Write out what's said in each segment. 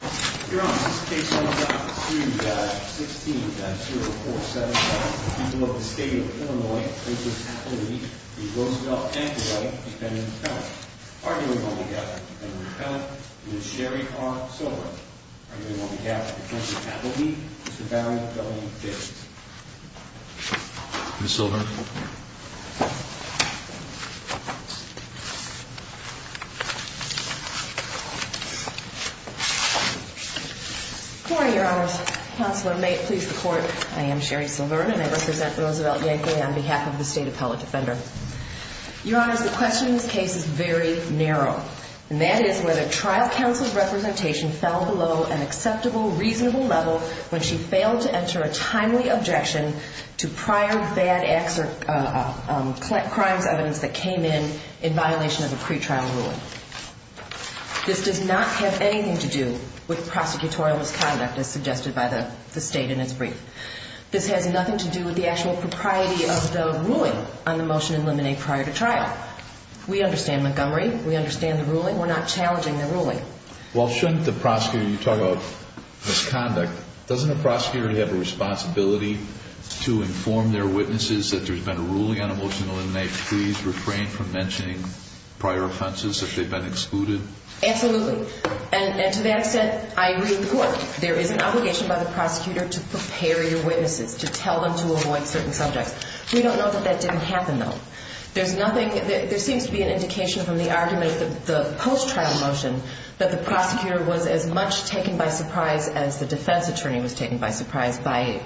Your Honor, this case sums up to 3-16-0477. The people of the state of Illinois, Mrs. Appleby, Ms. Roosevelt, and Mr. Yankaway, defendant and appellant, arguing on behalf of defendant and appellant, Ms. Sherry R. Silver, arguing on behalf of the plaintiff, Appleby, Mr. Barry W. Fisk. Ms. Silver. Ms. Yankaway. Good morning, Your Honors. Counselor, may it please the Court, I am Sherry Silver, and I represent Ms. Roosevelt Yankaway on behalf of the State Appellant Defender. Your Honors, the question in this case is very narrow, and that is whether trial counsel's representation fell below an acceptable, reasonable level when she failed to enter a timely objection to prior bad crimes evidence that came in in violation of the pretrial ruling. This does not have anything to do with prosecutorial misconduct, as suggested by the State in its brief. This has nothing to do with the actual propriety of the ruling on the motion in limine prior to trial. We understand Montgomery. We understand the ruling. We're not challenging the ruling. Well, shouldn't the prosecutor, you talk about misconduct, doesn't the prosecutor have a responsibility to inform their witnesses that there's been a ruling on a motion to eliminate pleas refrained from mentioning prior offenses if they've been excluded? Absolutely. And to that extent, I agree with the Court. There is an obligation by the prosecutor to prepare your witnesses, to tell them to avoid certain subjects. We don't know that that didn't happen, though. There's nothing, there seems to be an indication from the argument of the post-trial motion that the prosecutor was as much taken by surprise as the defense attorney was taken by surprise by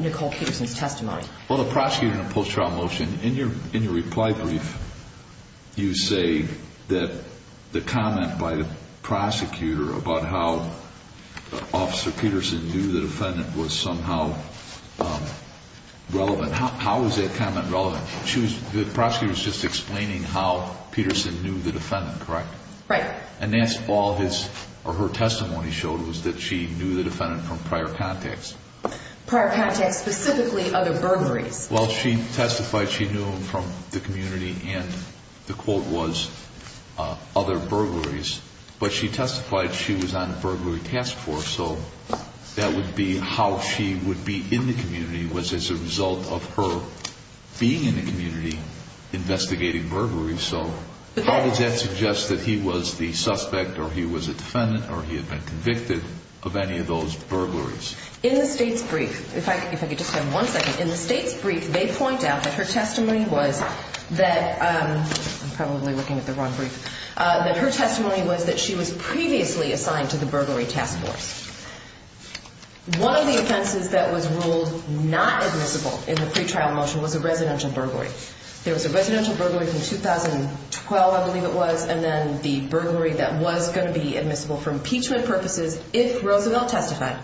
Nicole Peterson's testimony. Well, the prosecutor in the post-trial motion, in your reply brief, you say that the comment by the prosecutor about how Officer Peterson knew the defendant was somehow relevant. How is that comment relevant? The prosecutor was just explaining how Peterson knew the defendant, correct? Right. And that's all his or her testimony showed was that she knew the defendant from prior contacts. Prior contacts, specifically other burglaries. Well, she testified she knew him from the community and the quote was other burglaries, but she testified she was on a burglary task force, so that would be how she would be in the community was as a result of her being in the community investigating burglaries. So how does that suggest that he was the suspect or he was a defendant or he had been convicted of any of those burglaries? In the state's brief, if I could just have one second, in the state's brief they point out that her testimony was that, I'm probably looking at the wrong brief, that her testimony was that she was previously assigned to the burglary task force. One of the offenses that was ruled not admissible in the pretrial motion was a residential burglary. There was a residential burglary in 2012, I believe it was, and then the burglary that was going to be admissible for impeachment purposes if Roosevelt testified.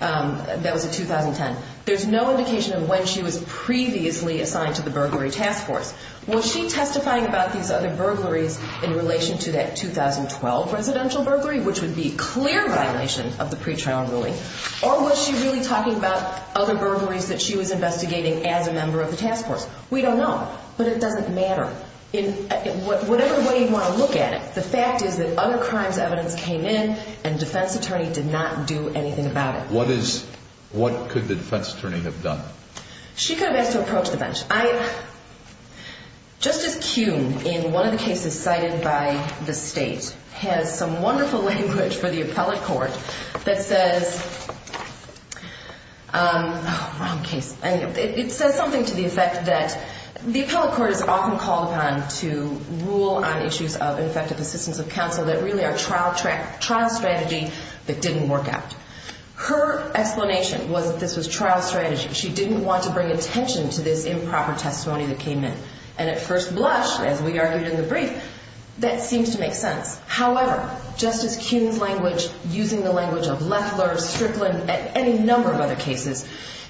That was in 2010. There's no indication of when she was previously assigned to the burglary task force. Was she testifying about these other burglaries in relation to that 2012 residential burglary, which would be clear violation of the pretrial ruling, or was she really talking about other burglaries that she was investigating as a member of the task force? We don't know, but it doesn't matter. Whatever way you want to look at it, the fact is that other crimes evidence came in and the defense attorney did not do anything about it. What could the defense attorney have done? She could have asked to approach the bench. Justice Kuhn, in one of the cases cited by the state, has some wonderful language for the appellate court that says something to the effect that the appellate court is often called upon to rule on issues of ineffective assistance of counsel that really are trial strategy that didn't work out. Her explanation was that this was trial strategy. She didn't want to bring attention to this improper testimony that came in, and at first blush, as we argued in the brief, that seems to make sense. However, Justice Kuhn's language, using the language of Leffler, Strickland, and any number of other cases,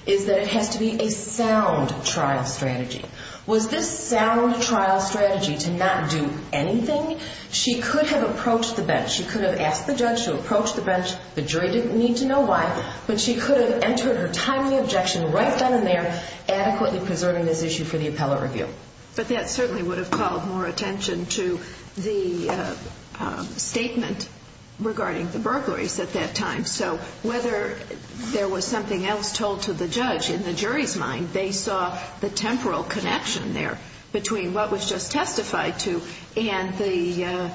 is that it has to be a sound trial strategy. Was this sound trial strategy to not do anything? She could have approached the bench. She could have asked the judge to approach the bench. The jury didn't need to know why, but she could have entered her timely objection right then and there, adequately preserving this issue for the appellate review. But that certainly would have called more attention to the statement regarding the burglaries at that time. So whether there was something else told to the judge, in the jury's mind, they saw the temporal connection there between what was just testified to and the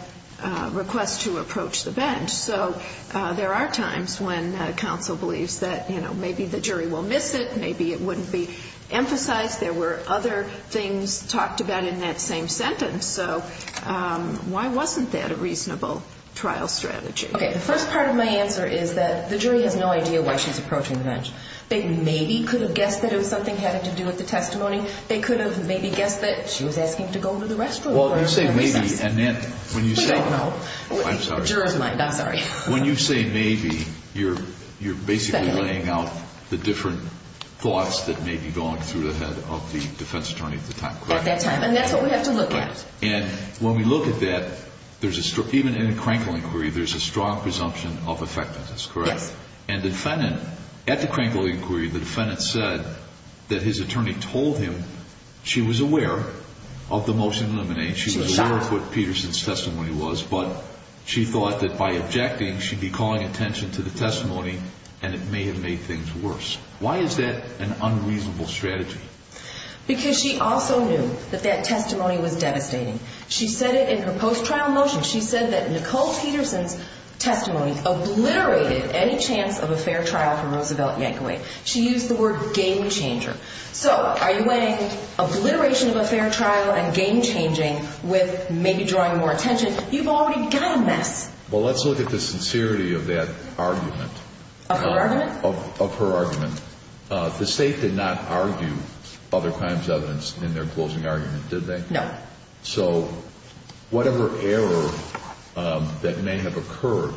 request to approach the bench. So there are times when counsel believes that, you know, maybe the jury will miss it. Maybe it wouldn't be emphasized. There were other things talked about in that same sentence. So why wasn't that a reasonable trial strategy? Okay, the first part of my answer is that the jury has no idea why she's approaching the bench. They maybe could have guessed that it was something having to do with the testimony. They could have maybe guessed that she was asking to go to the restaurant. Well, you say maybe, and then when you say no, I'm sorry. In the juror's mind, I'm sorry. When you say maybe, you're basically laying out the different thoughts that may be going through the head of the defense attorney at the time, correct? At that time, and that's what we have to look at. And when we look at that, even in a Crankle inquiry, there's a strong presumption of effectiveness, correct? Yes. And at the Crankle inquiry, the defendant said that his attorney told him she was aware of the motion to eliminate. She was aware of what Peterson's testimony was. But she thought that by objecting, she'd be calling attention to the testimony, and it may have made things worse. Why is that an unreasonable strategy? Because she also knew that that testimony was devastating. She said it in her post-trial motion. She said that Nicole Peterson's testimony obliterated any chance of a fair trial for Roosevelt Yankaway. She used the word game changer. So are you weighing obliteration of a fair trial and game changing with maybe drawing more attention? You've already done this. Well, let's look at the sincerity of that argument. Of her argument? Of her argument. The State did not argue other crimes evidence in their closing argument, did they? No. So whatever error that may have occurred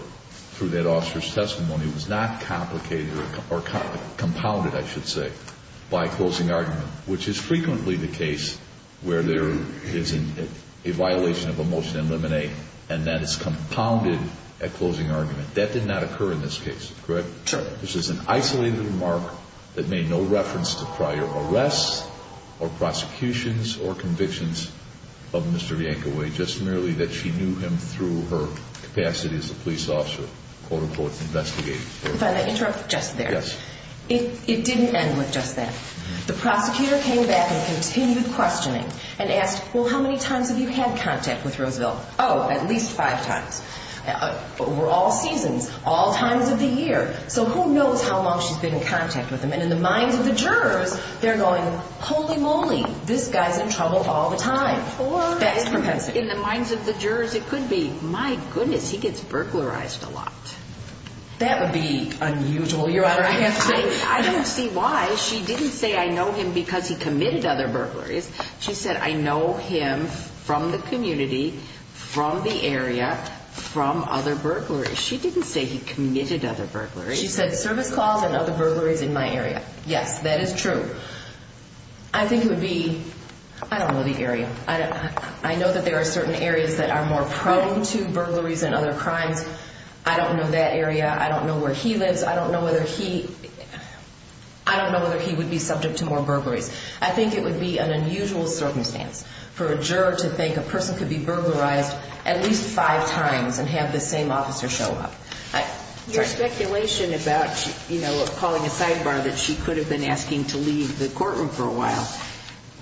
through that officer's testimony was not complicated or compounded, I should say, by closing argument, which is frequently the case where there is a violation of a motion to eliminate, and that is compounded at closing argument. That did not occur in this case, correct? Correct. This is an isolated remark that made no reference to prior arrests or prosecutions or convictions of Mr. Yankaway, just merely that she knew him through her capacity as a police officer, quote, unquote, investigating. If I may interrupt just there. Yes. It didn't end with just that. The prosecutor came back and continued questioning and asked, well, how many times have you had contact with Roosevelt? Oh, at least five times. Over all seasons, all times of the year. So who knows how long she's been in contact with him? And in the minds of the jurors, they're going, holy moly, this guy's in trouble all the time. That is propensity. In the minds of the jurors, it could be, my goodness, he gets burglarized a lot. That would be unusual, Your Honor, I have to say. I don't see why. She didn't say, I know him because he committed other burglaries. She said, I know him from the community, from the area, from other burglaries. She didn't say he committed other burglaries. She said service calls and other burglaries in my area. Yes, that is true. I think it would be, I don't know the area. I know that there are certain areas that are more prone to burglaries and other crimes. I don't know that area. I don't know where he lives. I don't know whether he would be subject to more burglaries. I think it would be an unusual circumstance for a juror to think a person could be burglarized at least five times and have the same officer show up. Your speculation about calling a sidebar that she could have been asking to leave the courtroom for a while,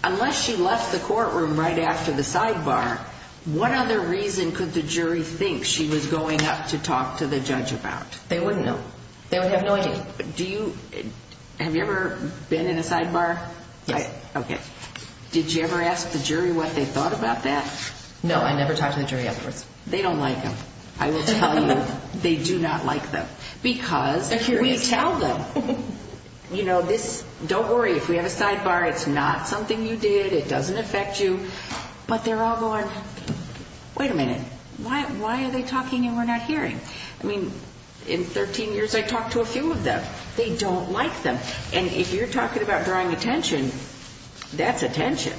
unless she left the courtroom right after the sidebar, what other reason could the jury think she was going up to talk to the judge about? They wouldn't know. They would have no idea. Do you, have you ever been in a sidebar? Yes. Okay. Did you ever ask the jury what they thought about that? No, I never talked to the jury afterwards. They don't like them. I will tell you, they do not like them. Because we tell them, you know, this, don't worry, if we have a sidebar, it's not something you did. It doesn't affect you. But they're all going, wait a minute, why are they talking and we're not hearing? I mean, in 13 years I talked to a few of them. They don't like them. And if you're talking about drawing attention, that's attention.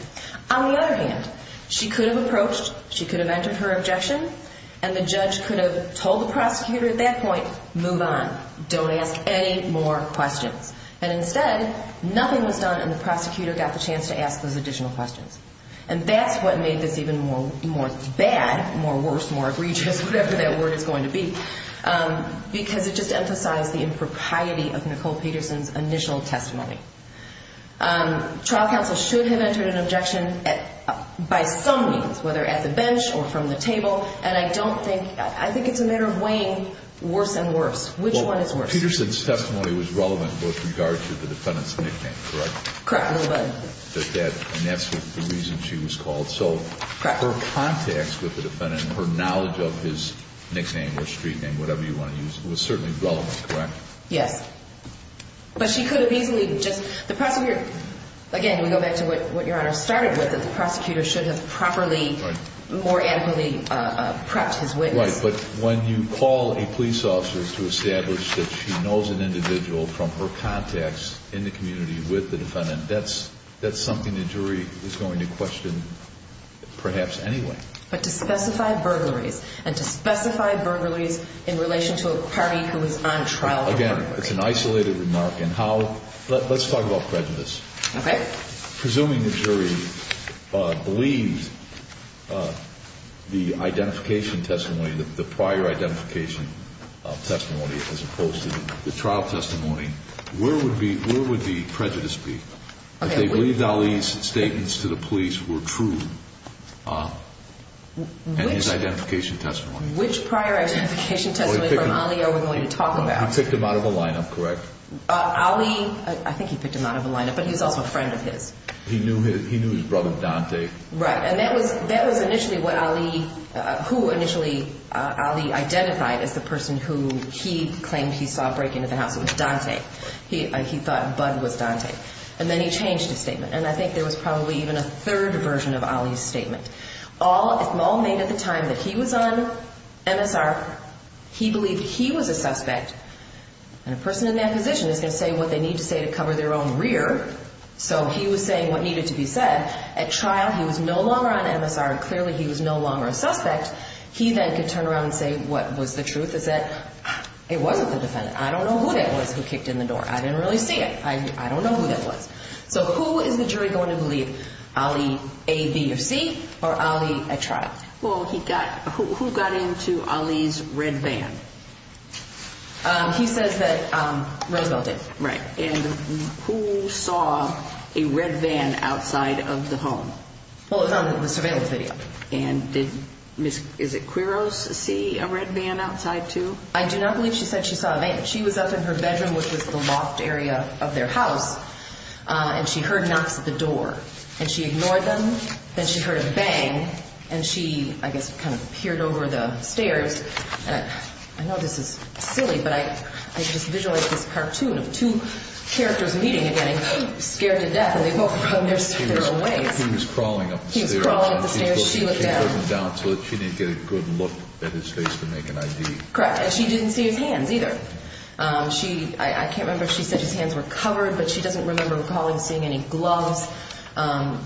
On the other hand, she could have approached, she could have entered her objection, and the judge could have told the prosecutor at that point, move on, don't ask any more questions. And instead, nothing was done and the prosecutor got the chance to ask those additional questions. And that's what made this even more bad, more worse, more egregious, whatever that word is going to be, because it just emphasized the impropriety of Nicole Peterson's initial testimony. Trial counsel should have entered an objection by some means, whether at the bench or from the table, and I don't think, I think it's a matter of weighing worse and worse. Which one is worse? Well, Peterson's testimony was relevant with regard to the defendant's nickname, correct? Correct. And that's the reason she was called. So her contacts with the defendant, her knowledge of his nickname or street name, whatever you want to use, was certainly relevant, correct? Yes. But she could have easily just, the prosecutor, again, we go back to what Your Honor started with, that the prosecutor should have properly, more adequately prepped his witness. Right, but when you call a police officer to establish that she knows an individual from her contacts in the community with the defendant, that's something the jury is going to question perhaps anyway. But to specify burglaries, and to specify burglaries in relation to a party who is on trial. Again, it's an isolated remark, and how, let's talk about prejudice. Okay. Presuming the jury believes the identification testimony, the prior identification testimony, as opposed to the trial testimony, where would the prejudice be? If they believed Ali's statements to the police were true, and his identification testimony. Which prior identification testimony from Ali are we going to talk about? He picked him out of a lineup, correct? Ali, I think he picked him out of a lineup, but he was also a friend of his. He knew his brother, Dante. Right, and that was initially what Ali, who initially Ali identified as the person who he claimed he saw breaking into the house. It was Dante. He thought Bud was Dante. And then he changed his statement. And I think there was probably even a third version of Ali's statement. All made at the time that he was on MSR, he believed he was a suspect. And a person in that position is going to say what they need to say to cover their own rear. So he was saying what needed to be said. At trial, he was no longer on MSR, and clearly he was no longer a suspect. He then could turn around and say what was the truth is that it wasn't the defendant. I don't know who that was who kicked in the door. I didn't really see it. I don't know who that was. So who is the jury going to believe? Ali A, B, or C? Or Ali at trial? Well, who got into Ali's red van? He says that Roosevelt did. Right. And who saw a red van outside of the home? Well, it was on the surveillance video. And did Ms. Quiros see a red van outside too? I do not believe she said she saw a van. She was up in her bedroom, which was the loft area of their house, and she heard knocks at the door. And she ignored them. Then she heard a bang, and she, I guess, kind of peered over the stairs. I know this is silly, but I just visualized this cartoon of two characters meeting again and getting scared to death, and they both run their stairways. He was crawling up the stairs. He was crawling up the stairs. She looked down. She looked down so that she didn't get a good look at his face to make an ID. Correct. And she didn't see his hands either. I can't remember if she said his hands were covered, but she doesn't remember recalling seeing any gloves.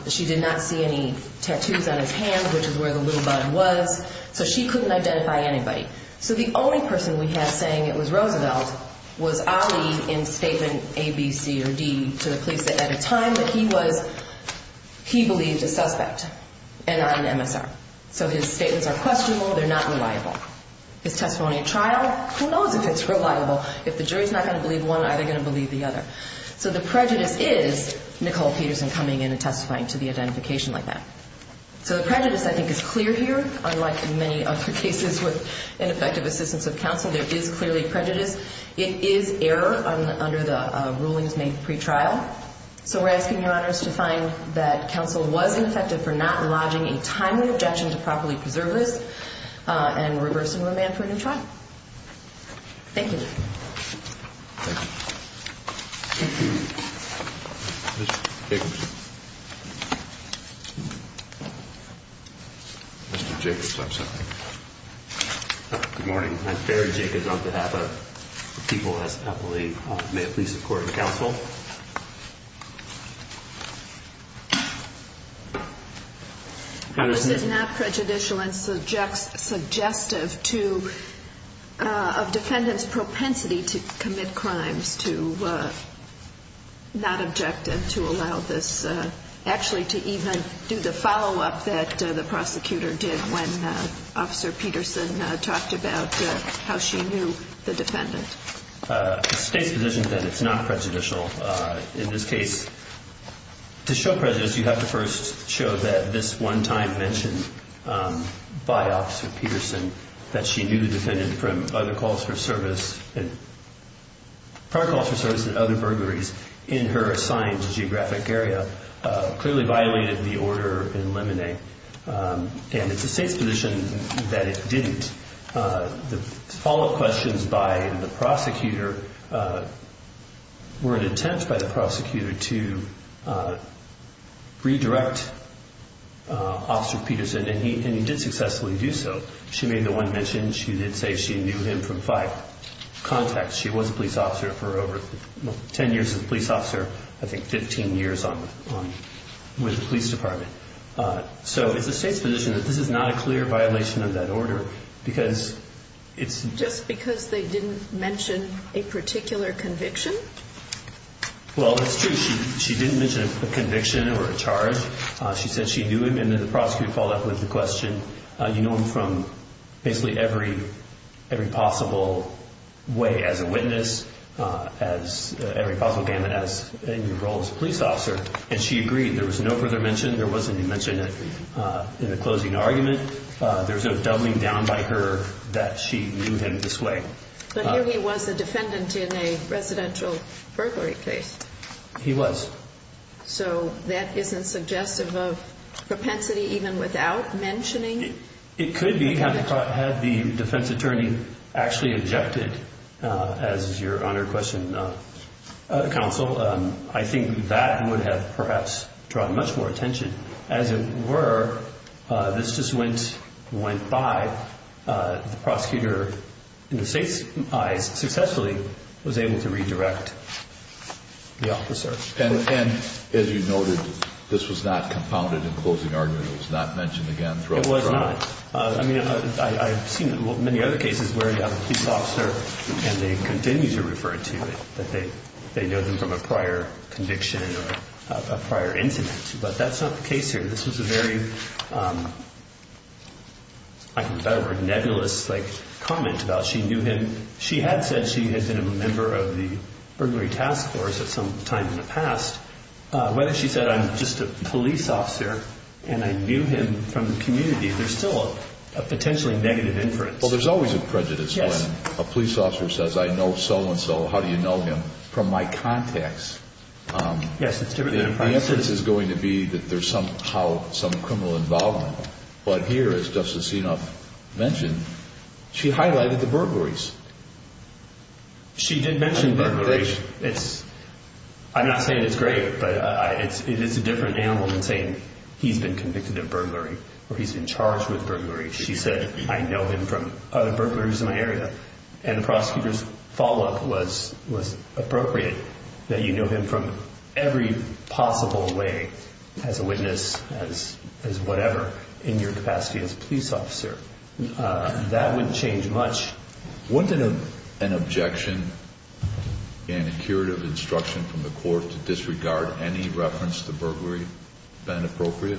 She did not see any tattoos on his hands, which is where the little bun was. So she couldn't identify anybody. So the only person we have saying it was Roosevelt was Ali in Statement A, B, C, or D to the police that at a time that he was, he believed a suspect and not an MSR. So his statements are questionable. They're not reliable. His testimony at trial, who knows if it's reliable. If the jury's not going to believe one, are they going to believe the other? So the prejudice is Nicole Peterson coming in and testifying to the identification like that. So the prejudice, I think, is clear here. Unlike in many other cases with ineffective assistance of counsel, there is clearly prejudice. It is error under the rulings made pretrial. So we're asking Your Honors to find that counsel was ineffective for not lodging a timely objection to properly preserve this and reverse and remand for a new trial. Thank you. Thank you. Thank you. Mr. Jacobs? Mr. Jacobs, I'm sorry. Good morning. I'm Barry Jacobs on behalf of the people at Eppley. May it please the Court and counsel. How is it not prejudicial and suggestive to a defendant's propensity to commit crimes to not object and to allow this actually to even do the follow-up that the prosecutor did when Officer Peterson talked about how she knew the defendant? The State's position is that it's not prejudicial. In this case, to show prejudice, you have to first show that this one time mentioned by Officer Peterson, that she knew the defendant from prior calls for service and other burglaries in her assigned geographic area clearly violated the order in limine. And it's the State's position that it didn't. The follow-up questions by the prosecutor were an attempt by the prosecutor to redirect Officer Peterson, and he did successfully do so. She made the one mention. She did say she knew him from five contacts. She was a police officer for over 10 years as a police officer, I think 15 years with the police department. So it's the State's position that this is not a clear violation of that order because it's... Just because they didn't mention a particular conviction? Well, it's true. She didn't mention a conviction or a charge. She said she knew him, and then the prosecutor followed up with the question, you know him from basically every possible way as a witness, every possible gamut in your role as a police officer. And she agreed. There was no further mention. There wasn't a mention in the closing argument. There's no doubling down by her that she knew him this way. But here he was a defendant in a residential burglary case. He was. So that isn't suggestive of propensity even without mentioning? It could be had the defense attorney actually objected, as is your honored question, Counsel. I think that would have perhaps drawn much more attention. As it were, this just went by. The prosecutor, in the State's eyes, successfully was able to redirect the officer. And as you noted, this was not compounded in the closing argument. It was not mentioned again. It was not. I mean, I've seen many other cases where you have a police officer and they continue to refer to it, that they know them from a prior conviction or a prior incident. But that's not the case here. This was a very, I can use a better word, nebulous comment about she knew him. She had said she had been a member of the burglary task force at some time in the past. Whether she said, I'm just a police officer and I knew him from the community, there's still a potentially negative inference. Well, there's always a prejudice when a police officer says, I know so-and-so. How do you know him? From my contacts. Yes, it's different than a prejudice. The inference is going to be that there's somehow some criminal involvement. But here, as Justice Sinop mentioned, she highlighted the burglaries. She did mention burglaries. I'm not saying it's great, but it is a different animal than saying, he's been convicted of burglary or he's been charged with burglary. She said, I know him from other burglaries in my area. And the prosecutor's follow-up was appropriate, that you know him from every possible way, as a witness, as whatever, in your capacity as a police officer. That wouldn't change much. Wouldn't an objection and a curative instruction from the court to disregard any reference to burglary have been appropriate?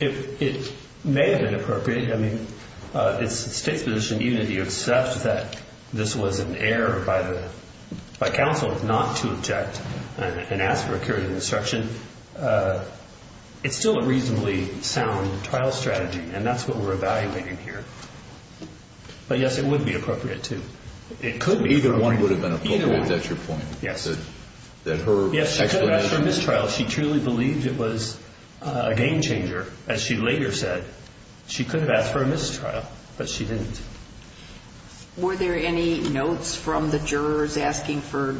It may have been appropriate. I mean, the state's position, even if you accept that this was an error by counsel not to object and ask for a curative instruction, it's still a reasonably sound trial strategy, and that's what we're evaluating here. But, yes, it would be appropriate to. It could be. Either one would have been appropriate. That's your point? Yes. Yes, she could have asked for a mistrial. She truly believed it was a game-changer, as she later said. She could have asked for a mistrial, but she didn't. Were there any notes from the jurors asking for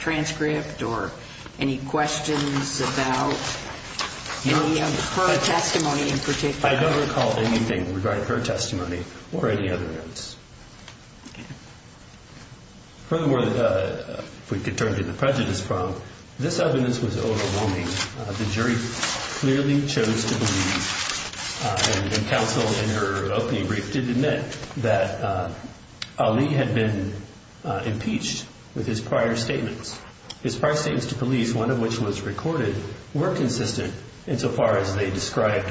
transcript or any questions about any of her testimony in particular? I don't recall anything regarding her testimony or any other notes. Furthermore, if we could turn to the prejudice problem, this evidence was overwhelming. The jury clearly chose to believe, and counsel in her opening brief did admit, that Ali had been impeached with his prior statements. His prior statements to police, one of which was recorded, were consistent insofar as they described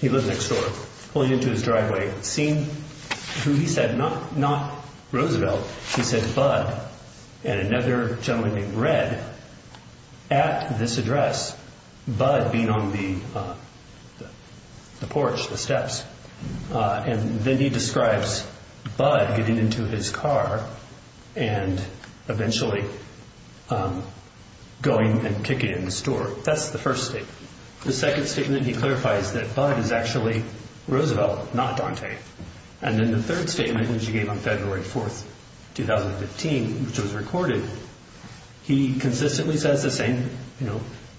he lived next door, pulling into his driveway, seeing who he said, not Roosevelt, he said, Bud, and another gentleman named Red at this address, Bud being on the porch, the steps. And then he describes Bud getting into his car and eventually going and kicking it in the store. That's the first statement. The second statement he clarifies that Bud is actually Roosevelt, not Dante. And then the third statement, which he gave on February 4th, 2015, which was recorded, he consistently says the same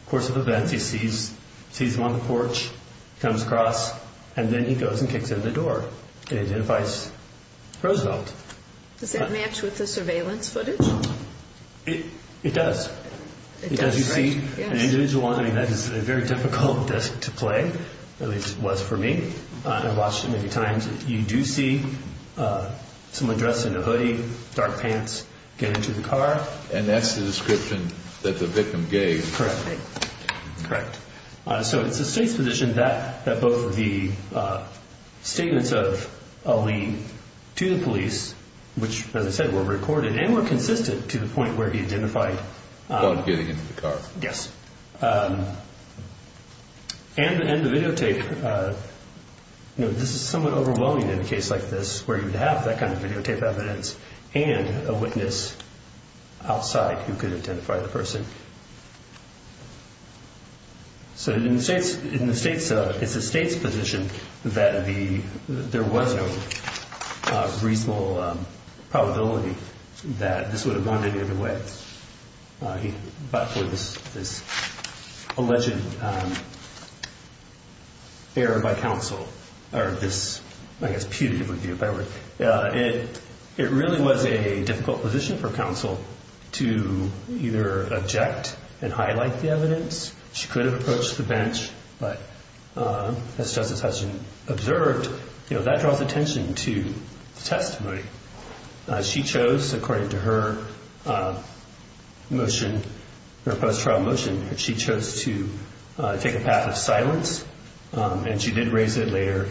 course of events. He sees him on the porch, comes across, and then he goes and kicks it in the door. It identifies Roosevelt. Does that match with the surveillance footage? It does. It does. You see an individual on it. I mean, that is a very difficult disc to play, at least it was for me. I've watched it many times. You do see someone dressed in a hoodie, dark pants, get into the car. And that's the description that the victim gave. Correct. Correct. Which, as I said, were recorded and were consistent to the point where he identified Bud getting into the car. Yes. And the videotape, you know, this is somewhat overwhelming in a case like this where you'd have that kind of videotape evidence and a witness outside who could identify the person. So in the state's, it's the state's position that there was no reasonable probability that this would have gone any other way. But for this alleged error by counsel, or this, I guess, putative would be a better word, it really was a difficult position for counsel to either object and highlight the evidence. She could have approached the bench, but as Justice Hudson observed, that draws attention to the testimony. She chose, according to her motion, her post-trial motion, she chose to take a path of silence, and she did raise it later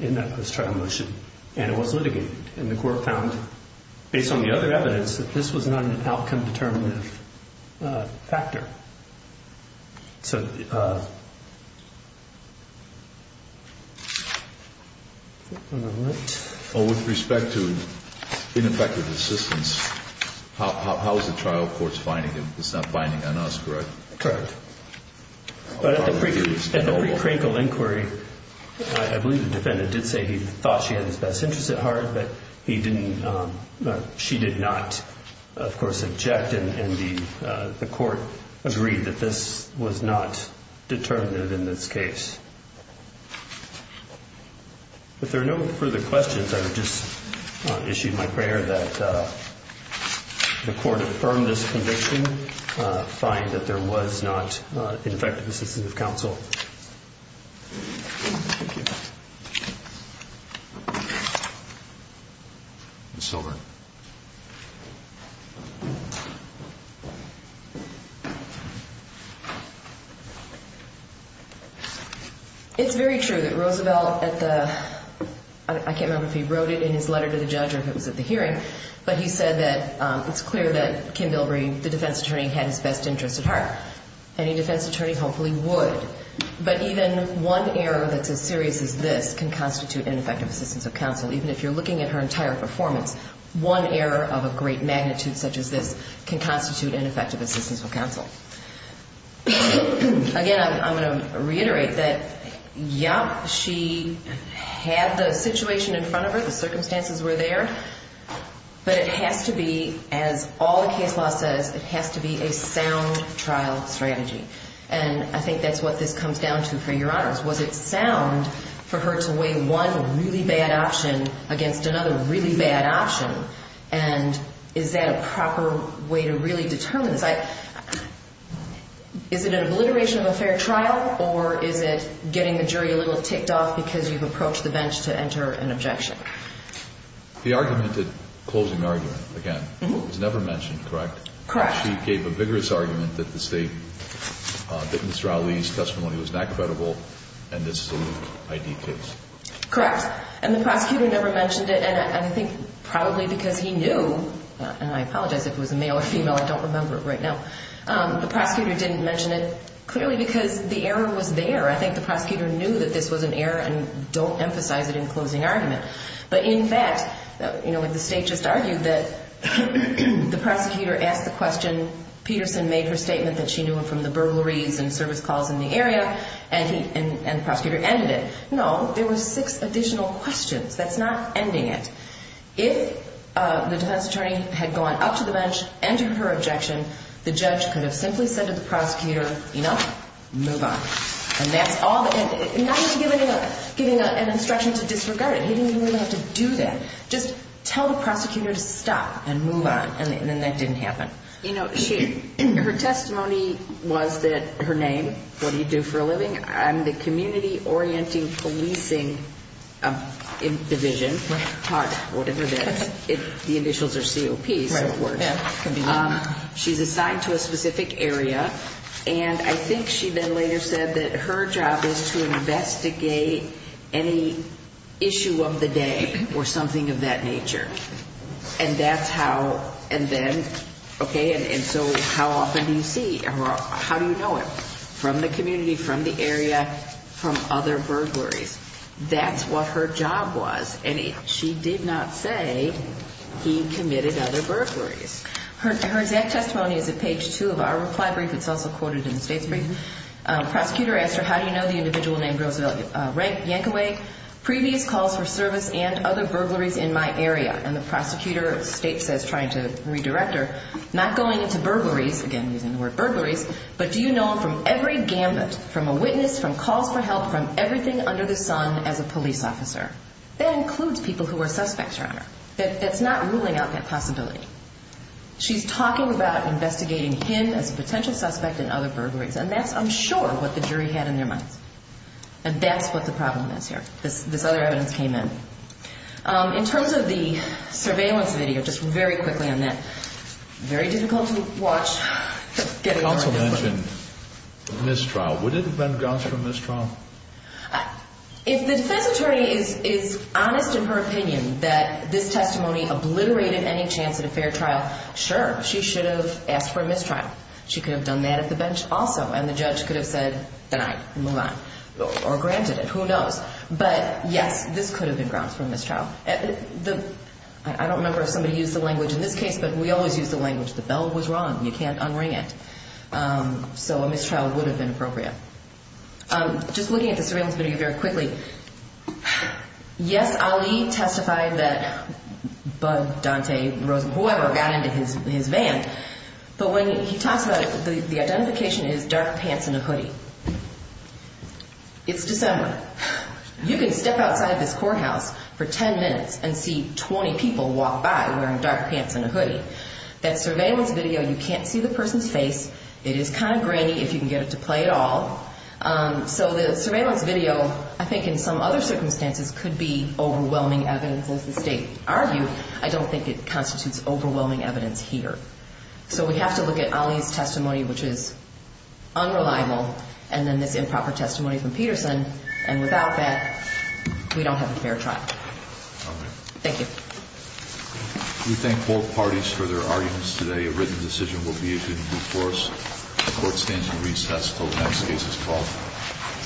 in that post-trial motion. And it was litigated, and the court found, based on the other evidence, that this was not an outcome-determinative factor. So with respect to ineffective assistance, how is the trial courts finding it? It's not binding on us, correct? Correct. But at the pre-crinkle inquiry, I believe the defendant did say he thought she had his best interest at heart, but he didn't, she did not, of course, object, and the court agreed that this was not determinative in this case. If there are no further questions, I would just issue my prayer that the court affirm this conviction, find that there was not ineffective assistance of counsel. Ms. Silver. It's very true that Roosevelt at the, I can't remember if he wrote it in his letter to the judge or if it was at the hearing, but he said that it's clear that Kim Bilbrey, the defense attorney, had his best interest at heart. Any defense attorney hopefully would, but even one error that's as serious as this can constitute ineffective assistance of counsel. Even if you're looking at her entire performance, one error of a great magnitude such as this can constitute ineffective assistance of counsel. Again, I'm going to reiterate that, yes, she had the situation in front of her, the circumstances were there, but it has to be, as all the case law says, it has to be a sound trial strategy, and I think that's what this comes down to for your honors. Was it sound for her to weigh one really bad option against another really bad option, and is that a proper way to really determine this? Is it an obliteration of a fair trial, or is it getting the jury a little ticked off because you've approached the bench to enter an objection? The argument, the closing argument, again, was never mentioned, correct? Correct. She gave a vigorous argument that Mr. Ali's testimony was not credible, and this is a loose ID case. Correct. And the prosecutor never mentioned it, and I think probably because he knew, and I apologize if it was a male or female, I don't remember it right now, the prosecutor didn't mention it clearly because the error was there. I think the prosecutor knew that this was an error and don't emphasize it in closing argument. But in fact, you know, like the state just argued that the prosecutor asked the question, Peterson made her statement that she knew him from the burglaries and service calls in the area, and the prosecutor ended it. No, there were six additional questions. That's not ending it. If the defense attorney had gone up to the bench and to her objection, the judge could have simply said to the prosecutor, you know, move on. And that's all. Not even giving an instruction to disregard it. He didn't even really have to do that. Just tell the prosecutor to stop and move on, and then that didn't happen. You know, her testimony was that her name, what do you do for a living, I'm the Community Orienting Policing Division. HUD, whatever that is. The initials are COP, so it works. She's assigned to a specific area, and I think she then later said that her job is to investigate any issue of the day or something of that nature. And that's how, and then, okay, and so how often do you see her? How do you know it? From the community, from the area, from other burglaries. That's what her job was, and she did not say he committed other burglaries. Her exact testimony is at page two of our reply brief. It's also quoted in the state's brief. Prosecutor asked her, how do you know the individual named Roosevelt Yankaway? Previous calls for service and other burglaries in my area. And the prosecutor states as trying to redirect her, not going into burglaries, again using the word burglaries, but do you know him from every gambit, from a witness, from calls for help, from everything under the sun as a police officer? That includes people who are suspects, Your Honor. That's not ruling out that possibility. She's talking about investigating him as a potential suspect in other burglaries, and that's, I'm sure, what the jury had in their minds. And that's what the problem is here. This other evidence came in. In terms of the surveillance video, just very quickly on that. Very difficult to watch. The counsel mentioned mistrial. Would it have been grounds for a mistrial? If the defense attorney is honest in her opinion that this testimony obliterated any chance at a fair trial, sure, she should have asked for a mistrial. She could have done that at the bench also, and the judge could have said, denied, move on, or granted it, who knows. But, yes, this could have been grounds for a mistrial. I don't remember if somebody used the language in this case, but we always use the language. The bell was rung. You can't unring it. So a mistrial would have been appropriate. Just looking at the surveillance video very quickly, yes, Ali testified that Bud, Dante, Rosen, whoever got into his van, but when he talks about it, the identification is dark pants and a hoodie. It's December. You can step outside this courthouse for 10 minutes and see 20 people walk by wearing dark pants and a hoodie. That surveillance video, you can't see the person's face. It is kind of grainy if you can get it to play at all. So the surveillance video, I think in some other circumstances, could be overwhelming evidence. As the state argued, I don't think it constitutes overwhelming evidence here. So we have to look at Ali's testimony, which is unreliable, and then this improper testimony from Peterson, and without that, we don't have a fair trial. Thank you. We thank both parties for their arguments today. A written decision will be issued in due course. The court stands in recess until the next case is called.